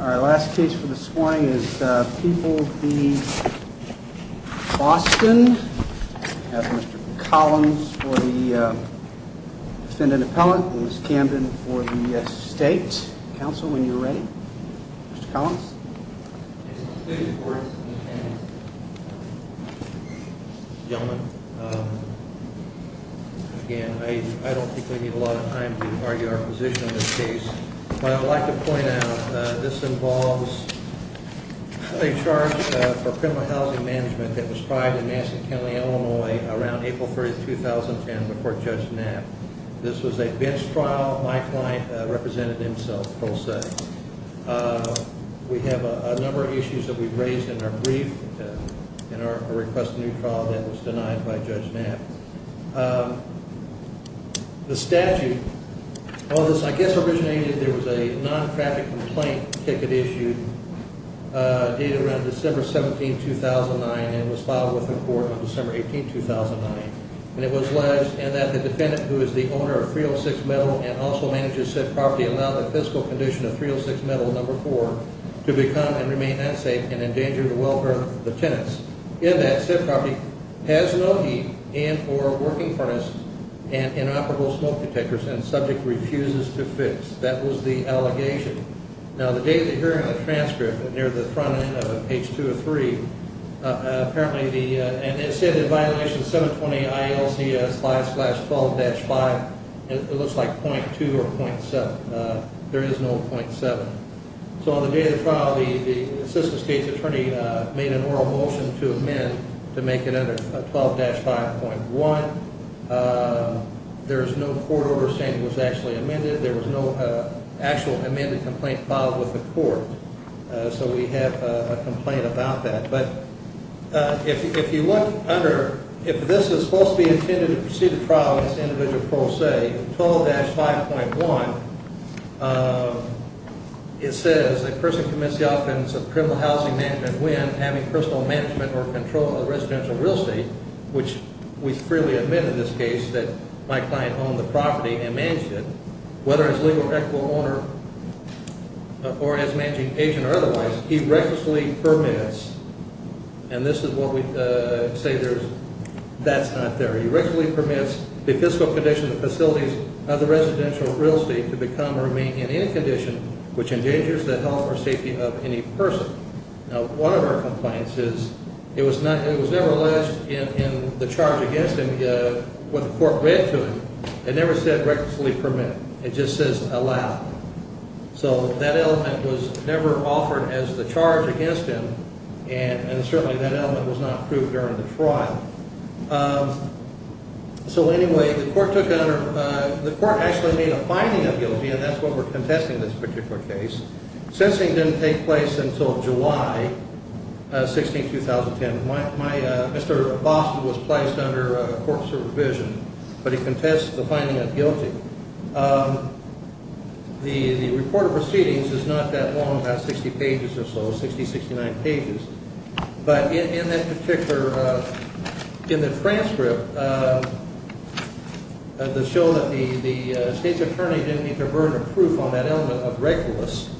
Our last case for this morning is People v. Boston. We have Mr. Collins for the Defendant Appellant and Ms. Camden for the State. Counsel, when you're ready. Mr. Collins. Gentlemen, again, I don't think we need a lot of time to argue our position in this case, but I would like to point out that this involves a charge for criminal housing management that was tried in Massachusetts County, Illinois around April 30, 2010 before Judge Knapp. This was a bench trial. My client represented himself, pro se. We have a number of issues that we've raised in our brief in our request for a new trial that was denied by Judge Knapp. The statute of this, I guess, originated, there was a non-traffic complaint ticket issued dated around December 17, 2009 and was filed with the court on December 18, 2009. It was alleged that the Defendant, who is the owner of 306 Metal and also manages said property, allowed the fiscal condition of 306 Metal No. 4 to become and remain unsafe and endanger the welfare of the tenants. In that said property has no heat and or working furnace and inoperable smoke detectors and the subject refuses to fix. That was the allegation. Now the day of the hearing of the transcript, near the front end of page 203, apparently the, and it said in violation 720 ILCS slash slash 12-5, it looks like .2 or .7. There is no .7. So on the day of the trial, the Assistant State's Attorney made an oral motion to amend to make it under 12-5.1. There is no court order saying it was actually amended. There was no actual amended complaint filed with the court. So we have a complaint about that. But if you look under, if this is supposed to be intended to precede the trial against the individual pro se, 12-5.1, it says the person commits the offense of criminal housing management when having personal management or control of residential real estate, which we freely admit in this case that my client owned the property and managed it. Whether it's legal or equitable owner or as managing agent or otherwise, he recklessly permits, and this is what we say there's, that's not there. He recklessly permits the fiscal conditions and facilities of the residential real estate to become or remain in any condition which endangers the health or safety of any person. Now, one of our complaints is it was never alleged in the charge against him, what the court read to him. It never said recklessly permit. It just says allow. So that element was never offered as the charge against him, and certainly that element was not approved during the trial. So anyway, the court took, the court actually made a finding of guilty, and that's what we're contesting in this particular case. Sensing didn't take place until July 16, 2010. My, Mr. Boston was placed under court supervision, but he contests the finding of guilty. The report of proceedings is not that long, about 60 pages or so, 60, 69 pages. But in that particular, in the transcript, the show that the state's attorney didn't need to burn a proof on that element of recklessness.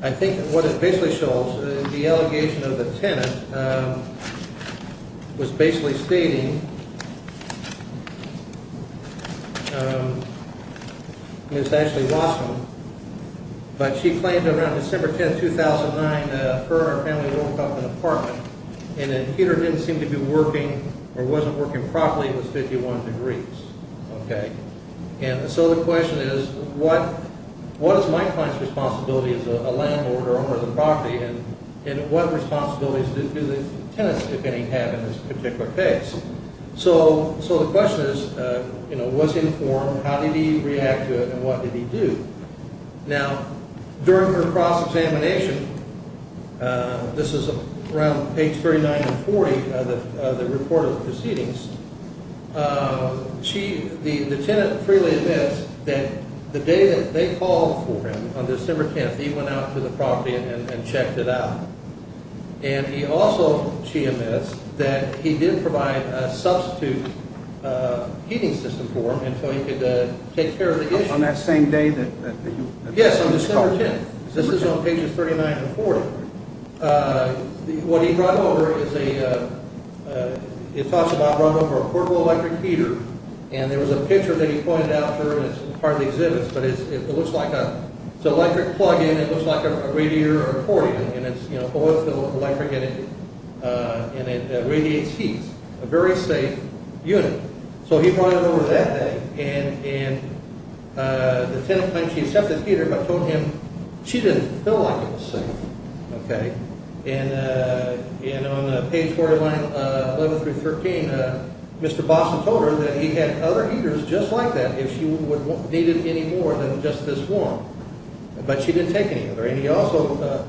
I think what it basically shows, the allegation of the tenant was basically stating Miss Ashley Boston, but she claimed around December 10, 2009, her and her family woke up in an apartment, and the heater didn't seem to be working or wasn't working properly. It was 51 degrees. And so the question is, what is my client's responsibility as a landlord or owner of the property, and what responsibilities do the tenants, if any, have in this particular case? So the question is, was he informed? How did he react to it, and what did he do? Now, during her cross-examination, this is around page 39 and 40 of the report of proceedings, the tenant freely admits that the day that they called for him, on December 10, he went out to the property and checked it out. And he also, she admits, that he did provide a substitute heating system for him, and so he could take care of the issue. On that same day that you… Yes, on December 10. This is on pages 39 and 40. What he brought over is a portable electric heater, and there was a picture that he pointed out there, and it's part of the exhibits, but it looks like an electric plug-in, it looks like a radiator or accordion, and it's oil-filled with electric energy, and it radiates heat. So he brought it over that day, and the tenant claimed she accepted the heater, but told him she didn't feel like it was safe. And on page 49, 11 through 13, Mr. Bossen told her that he had other heaters just like that if she needed any more than just this one, but she didn't take any other. And he also,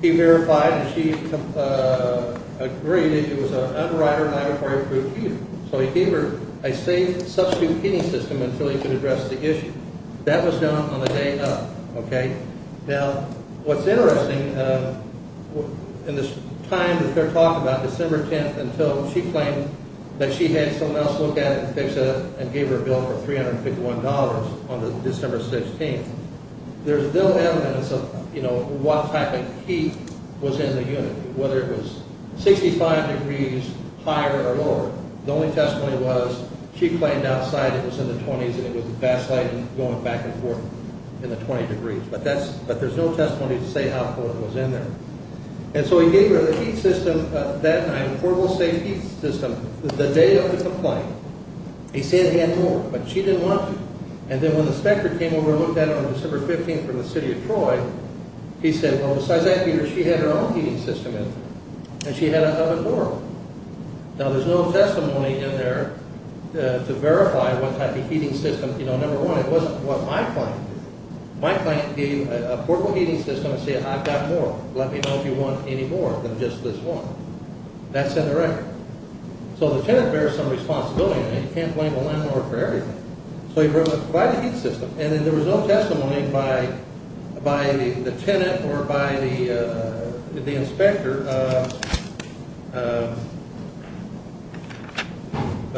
he verified that she agreed that it was an underwriter, laboratory-approved heater. So he gave her a safe substitute heating system until he could address the issue. That was done on the day of. Now, what's interesting, in this time that they're talking about, December 10th, until she claimed that she had someone else look at it and fix it and gave her a bill for $351 on December 16th, there's little evidence of what type of heat was in the unit, whether it was 65 degrees higher or lower. The only testimony was she claimed outside it was in the 20s, and it was backsliding, going back and forth in the 20 degrees. But there's no testimony to say how cool it was in there. And so he gave her the heat system that night, portable safe heat system, the day of the complaint. He said he had more, but she didn't want to. And then when the inspector came over and looked at it on December 15th from the city of Troy, he said, well, besides that heater, she had her own heating system in there, and she had another door. Now, there's no testimony in there to verify what type of heating system. You know, number one, it wasn't what my client did. My client gave a portable heating system and said, I've got more. Let me know if you want any more than just this one. That's in the record. So the tenant bears some responsibility, and you can't blame a landlord for everything. So he provided the heat system, and then there was no testimony by the tenant or by the inspector.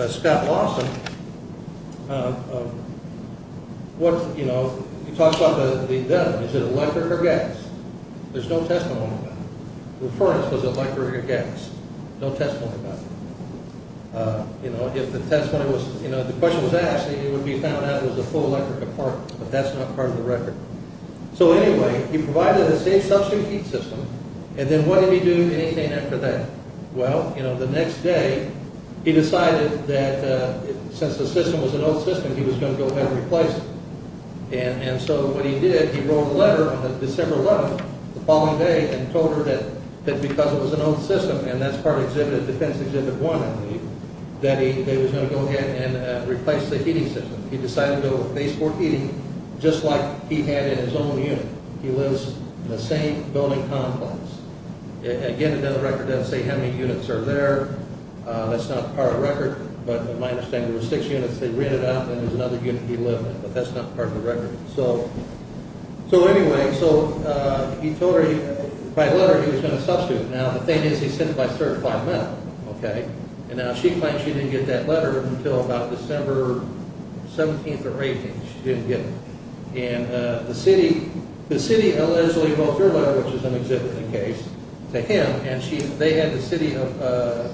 Scott Lawson, what, you know, he talks about the, is it electric or gas? There's no testimony about it. The furnace was electric or gas. No testimony about it. You know, if the testimony was, you know, if the question was asked, it would be found out it was a full electric apartment, but that's not part of the record. So anyway, he provided a safe substitute heat system, and then what did he do anything after that? Well, you know, the next day, he decided that since the system was an old system, he was going to go ahead and replace it. And so what he did, he wrote a letter on December 11th, the following day, and told her that because it was an old system, and that's part of Exhibit, Defense Exhibit 1, that he was going to go ahead and replace the heating system. He decided to go with phase 4 heating, just like he had in his own unit. He lives in the same building complex. Again, it doesn't record that, say, how many units are there. That's not part of the record, but my understanding was six units. They rented out, and there's another unit he lived in, but that's not part of the record. So anyway, so he told her, by letter, he was going to substitute. Now, the thing is, he sent it by certified mail, okay? And now she claims she didn't get that letter until about December 17th or 18th. She didn't get it. And the city allegedly wrote her letter, which is an exhibiting case, to him, and they had the city of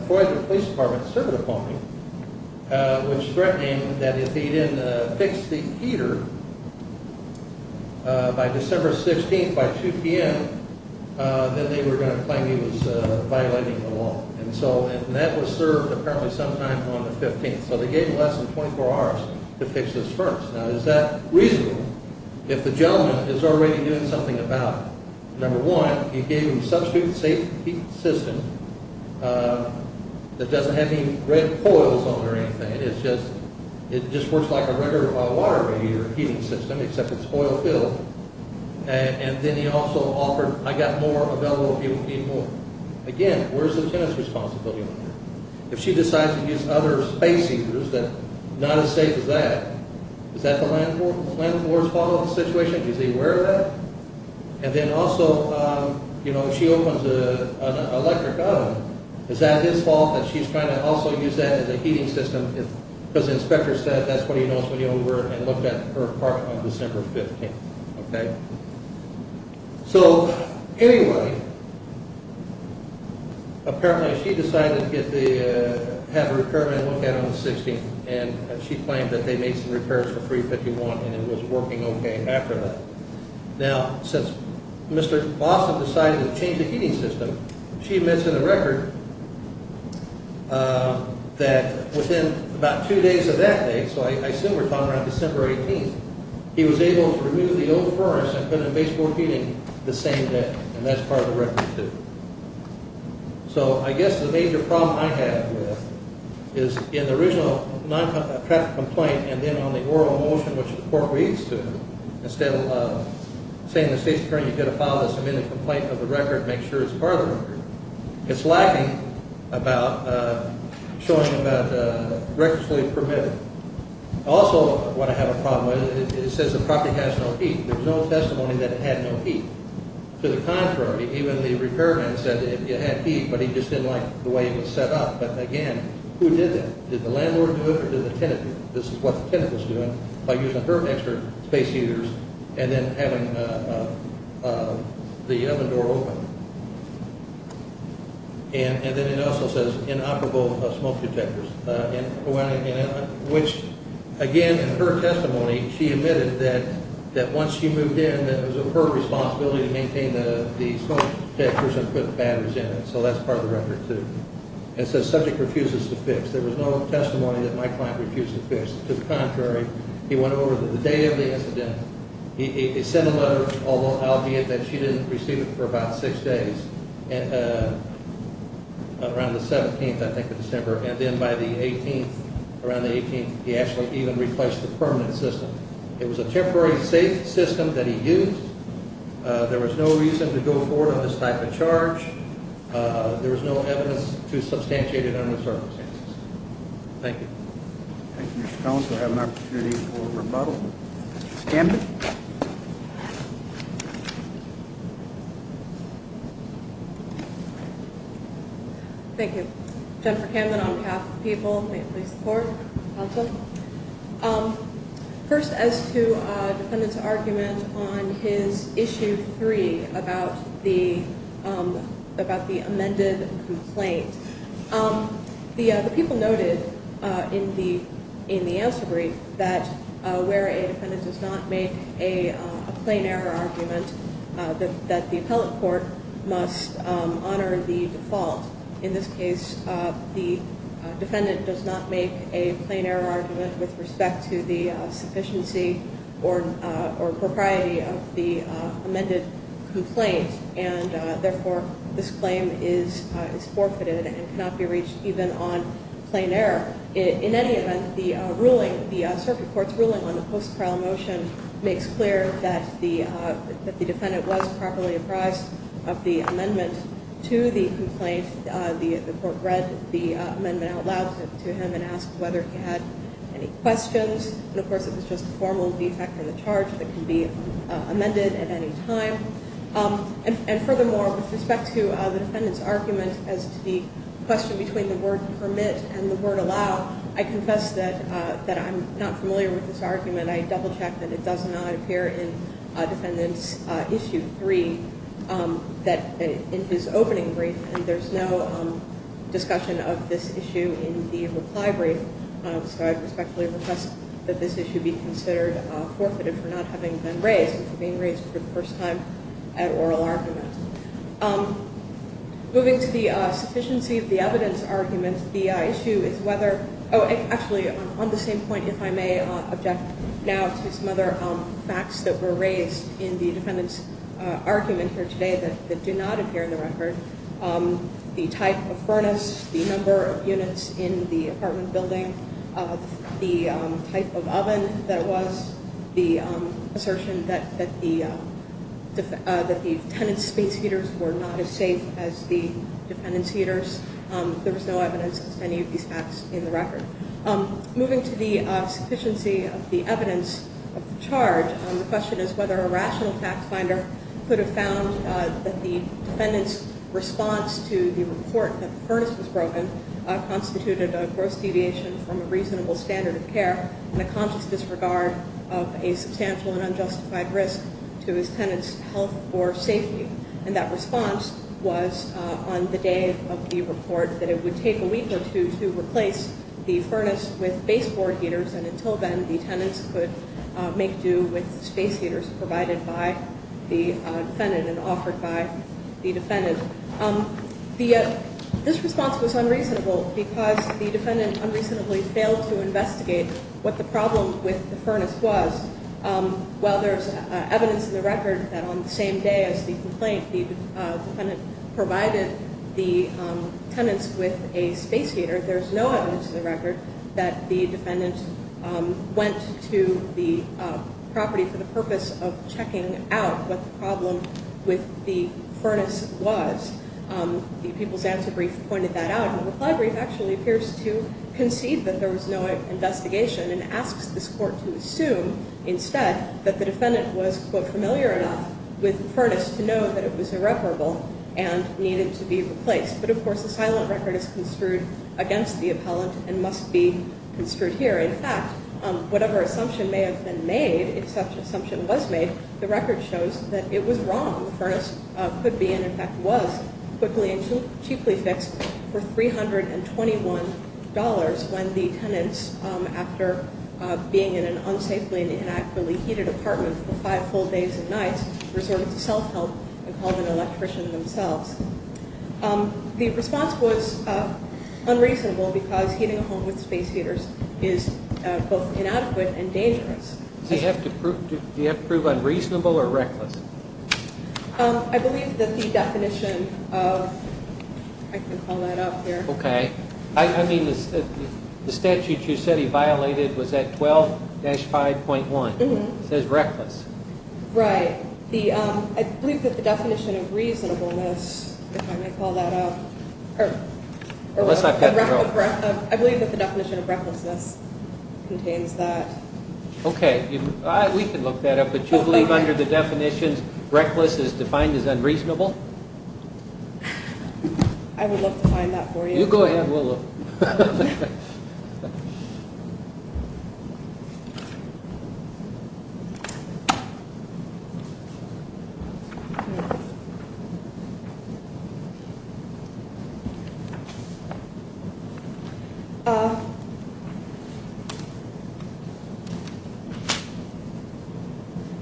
Foyler Police Department serve it upon him, which threatened that if he didn't fix the heater by December 16th, by 2 p.m., then they were going to claim he was violating the law. And that was served, apparently, sometime on the 15th. So they gave him less than 24 hours to fix this furnace. Now, is that reasonable if the gentleman is already doing something about it? Number one, he gave him a substitute heat system that doesn't have any red coils on it or anything. It just works like a regular water radiator heating system, except it's oil-filled. And then he also offered, I got more available if you need more. Again, where's the lieutenant's responsibility on that? If she decides to use other space heaters that are not as safe as that, is that the landlord's fault in the situation? Is he aware of that? And then also, you know, if she opens an electric oven, is that his fault that she's trying to also use that as a heating system? Because the inspector said that's what he knows when he looked at her apartment on December 15th, okay? So anyway, apparently she decided to have a repairman look at it on the 16th, and she claimed that they made some repairs for 351 and it was working okay after that. Now, since Mr. Lawson decided to change the heating system, she admits in the record that within about two days of that date, so I assume we're talking around December 18th, he was able to remove the old furnace and put in a baseboard heating the same day, and that's part of the record, too. So I guess the major problem I have with it is in the original traffic complaint and then on the oral motion, which the court reads to, instead of saying in the State Superior Court, you've got to file this amended complaint with the record and make sure it's part of the record, it's lacking about showing that the record is fully permitted. Also, what I have a problem with, it says the property has no heat. There's no testimony that it had no heat. To the contrary, even the repairman said it had heat, but he just didn't like the way it was set up. But again, who did that? Did the landlord do it or did the tenant do it? This is what the tenant was doing by using her extra space heaters and then having the oven door open. And then it also says inoperable smoke detectors. Which, again, in her testimony, she admitted that once she moved in, that it was her responsibility to maintain the smoke detectors and put batteries in it. So that's part of the record, too. It says subject refuses to fix. There was no testimony that my client refused to fix. To the contrary, he went over to the day of the incident. He sent a letter, albeit that she didn't receive it for about six days, around the 17th, I think, of December. And then by the 18th, around the 18th, he actually even replaced the permanent system. It was a temporary safe system that he used. There was no reason to go forward on this type of charge. There was no evidence to substantiate it under the circumstances. Thank you. Thank you, Mr. Collins. We'll have an opportunity for rebuttal. Mr. Stanton? Thank you. Jennifer Camden on behalf of the people. May it please the Court. Counsel. First, as to the defendant's argument on his Issue 3 about the amended complaint, the people noted in the answer brief that where a defendant does not make a plain error argument, that the appellate court must honor the default. In this case, the defendant does not make a plain error argument with respect to the sufficiency or propriety of the amended complaint, and, therefore, this claim is forfeited and cannot be reached even on plain error. In any event, the circuit court's ruling on the post-trial motion makes clear that the defendant was properly apprised of the amendment to the complaint. The court read the amendment out loud to him and asked whether he had any questions. And, of course, it was just a formal defect of the charge that can be amended at any time. And, furthermore, with respect to the defendant's argument as to the question between the word I confess that I'm not familiar with this argument. I double-checked that it does not appear in Defendant's Issue 3 in his opening brief, and there's no discussion of this issue in the reply brief. So I respectfully request that this issue be considered forfeited for not having been raised and for being raised for the first time at oral argument. Moving to the sufficiency of the evidence argument, the issue is whether – oh, actually, on the same point, if I may object now to some other facts that were raised in the defendant's argument here today that do not appear in the record. The type of furnace, the number of units in the apartment building, the type of oven that it was, the assertion that the tenant's space heaters were not as safe as the defendant's heaters, there was no evidence of any of these facts in the record. Moving to the sufficiency of the evidence of the charge, the question is whether a rational fact finder could have found that the defendant's response to the report that the furnace was broken constituted a gross deviation from a reasonable standard of care and a conscious disregard of a substantial and unjustified risk to his tenant's health or safety. And that response was on the day of the report that it would take a week or two to replace the furnace with baseboard heaters, and until then, the tenants could make do with space heaters provided by the defendant and offered by the defendant. This response was unreasonable because the defendant unreasonably failed to investigate what the problem with the furnace was. While there's evidence in the record that on the same day as the complaint, the defendant provided the tenants with a space heater, there's no evidence in the record that the defendant went to the property for the purpose of checking out what the problem with the furnace was. The people's answer brief pointed that out. The reply brief actually appears to concede that there was no investigation and asks this court to assume instead that the defendant was, quote, familiar enough with the furnace to know that it was irreparable and needed to be replaced. But of course, the silent record is construed against the appellant and must be construed here. In fact, whatever assumption may have been made, if such an assumption was made, the record shows that it was wrong. The furnace could be and, in fact, was quickly and cheaply fixed for $321 when the tenants, after being in an unsafely and inaccurately heated apartment for five full days and nights, resorted to self-help and called an electrician themselves. The response was unreasonable because heating a home with space heaters is both inadequate and dangerous. Do you have to prove unreasonable or reckless? I believe that the definition of, I can call that up here. Okay. I mean, the statute you said he violated was at 12-5.1. It says reckless. Right. I believe that the definition of reasonableness, if I may call that up. I believe that the definition of recklessness contains that. Okay. We can look that up. But you believe under the definitions reckless is defined as unreasonable? I would love to find that for you. You go ahead. We'll look.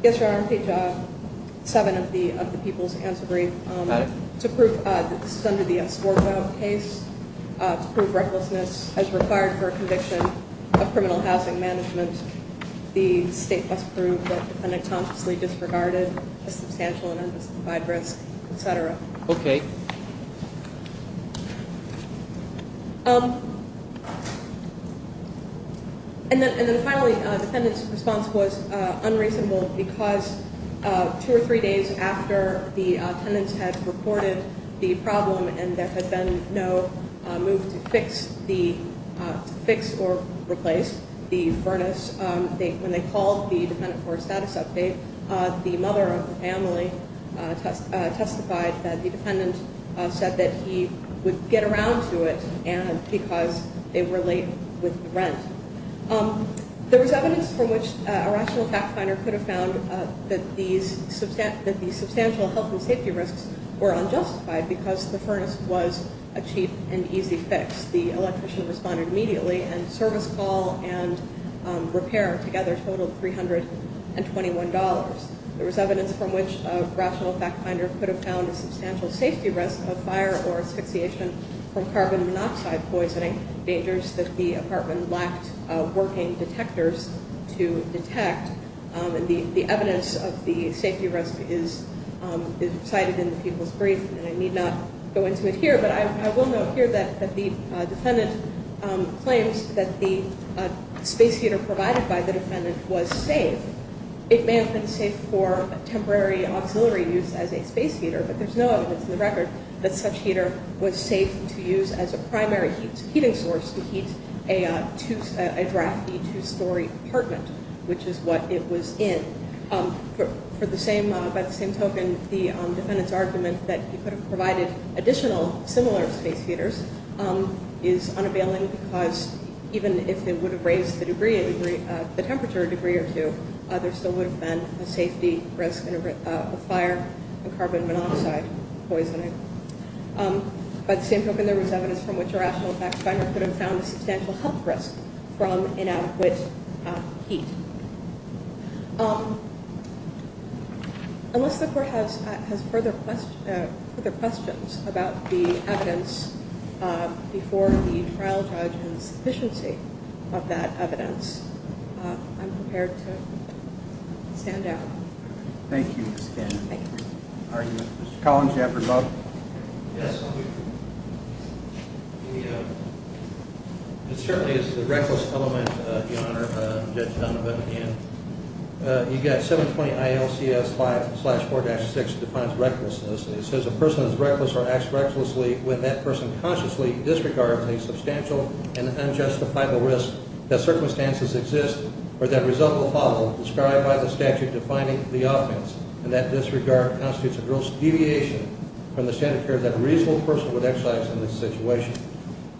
Yes, Your Honor. I'm Page 7 of the People's Answer Brief. Got it. To prove that this is under the S4 vote case, to prove recklessness as required for a conviction of criminal housing management, the State must prove that the defendant consciously disregarded a substantial and undisclosed risk, et cetera. Okay. And then finally, the defendant's response was unreasonable because two or three days after the furnace, when they called the defendant for a status update, the mother of the family testified that the defendant said that he would get around to it because they were late with the rent. There was evidence from which a rational fact finder could have found that these substantial health and safety risks were unjustified because the furnace was a cheap and easy fix. The electrician responded immediately and service call and repair together totaled $321. There was evidence from which a rational fact finder could have found a substantial safety risk of fire or asphyxiation from carbon monoxide poisoning, dangers that the apartment lacked working detectors to detect. And the evidence of the safety risk is cited in the People's Brief. And I need not go into it here, but I will note here that the defendant claims that the space heater provided by the defendant was safe. It may have been safe for temporary auxiliary use as a space heater, but there's no evidence in the record that such heater was safe to use as a primary heating source to heat a drafty two-story apartment, which is what it was in. By the same token, the defendant's argument that he could have provided additional similar space heaters is unavailing because even if it would have raised the temperature a degree or two, there still would have been a safety risk of fire and carbon monoxide poisoning. By the same token, there was evidence from which a rational fact finder could have found a substantial health risk from inadequate heat. Unless the court has further questions about the evidence before the trial judge and the sufficiency of that evidence, I'm prepared to stand down. Thank you. Mr. Collins, do you have a rebuttal? Yes. It certainly is the reckless element, Your Honor, Judge Donovan, again. You've got 720 ILCS 5-4-6 defines recklessness. It says a person is reckless or acts recklessly when that person consciously disregards a substantial and unjustifiable risk that circumstances exist or that result will follow, described by the statute defining the offense, and that disregard constitutes a gross deviation from the standard of care that a reasonable person would exercise in this situation.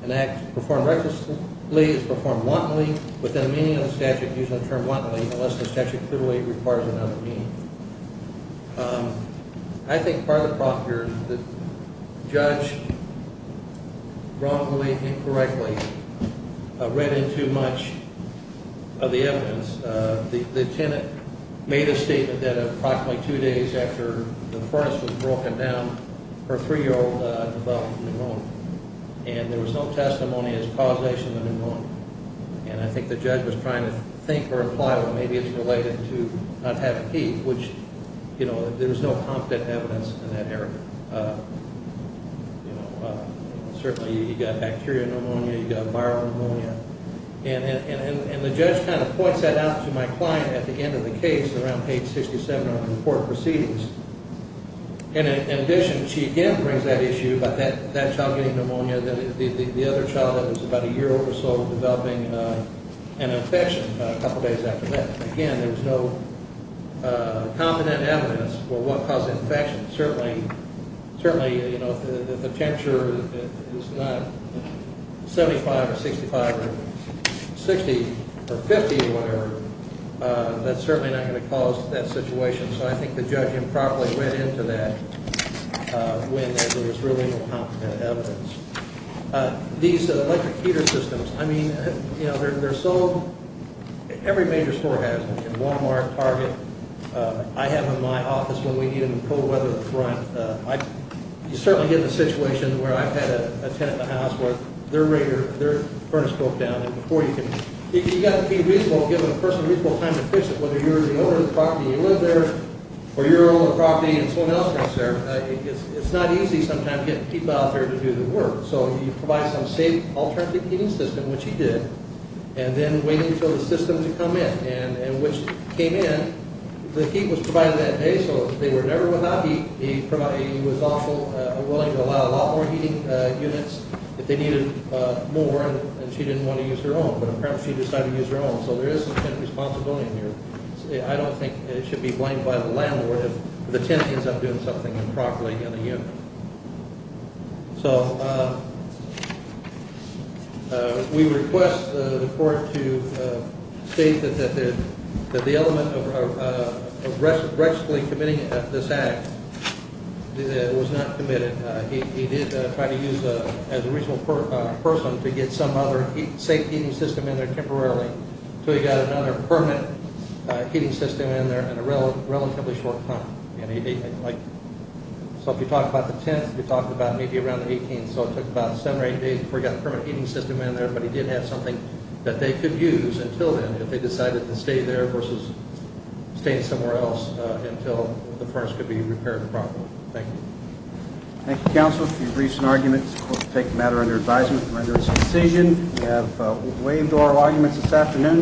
An act performed recklessly is performed wantonly within the meaning of the statute, using the term wantonly unless the statute clearly requires another meaning. I think part of the problem here is the judge wrongly and incorrectly read into much of the evidence. The tenant made a statement that approximately two days after the furnace was broken down, her 3-year-old developed pneumonia, and there was no testimony as causation of pneumonia. And I think the judge was trying to think or imply that maybe it's related to not having teeth, which, you know, there was no confident evidence in that area. Certainly, you've got bacteria pneumonia, you've got viral pneumonia, and the judge kind of points that out to my client at the end of the case around page 67 of the report proceedings. And in addition, she again brings that issue about that child getting pneumonia, the other child that was about a year old or so developing an infection a couple days after that. Again, there was no confident evidence for what caused the infection. Certainly, you know, if the temperature is not 75 or 65 or 60 or 50 or whatever, that's certainly not going to cause that situation. So I think the judge improperly went into that when there was really no confident evidence. These electric heater systems, I mean, you know, they're sold. Every major store has them, Walmart, Target. I have them in my office when we need them in cold weather up front. You certainly get in a situation where I've had a tenant in the house where their furnace broke down, and before you can – if you've got to be reasonable, give a person a reasonable time to fix it, whether you're the owner of the property and you live there or you're the owner of the property and someone else lives there. It's not easy sometimes getting people out there to do the work. So you provide some safe alternative heating system, which he did, and then waiting for the system to come in. And when it came in, the heat was provided that day, so they were never without heat. He was also willing to allow a lot more heating units if they needed more, and she didn't want to use her own. But apparently she decided to use her own, so there is some tenant responsibility in here. I don't think it should be blamed by the landlord if the tenant ends up doing something improperly in a unit. So we request the court to state that the element of aggressively committing this act was not committed. He did try to use, as a reasonable person, to get some other safe heating system in there temporarily until he got another permanent heating system in there in a relatively short time. So if you talk about the 10th, you're talking about maybe around the 18th, so it took about seven or eight days before he got a permanent heating system in there, but he did have something that they could use until then if they decided to stay there versus staying somewhere else until the furnace could be repaired properly. Thank you. Thank you, Counselor, for your briefs and arguments. The court will take the matter under advisement and render its decision. We have waived oral arguments this afternoon.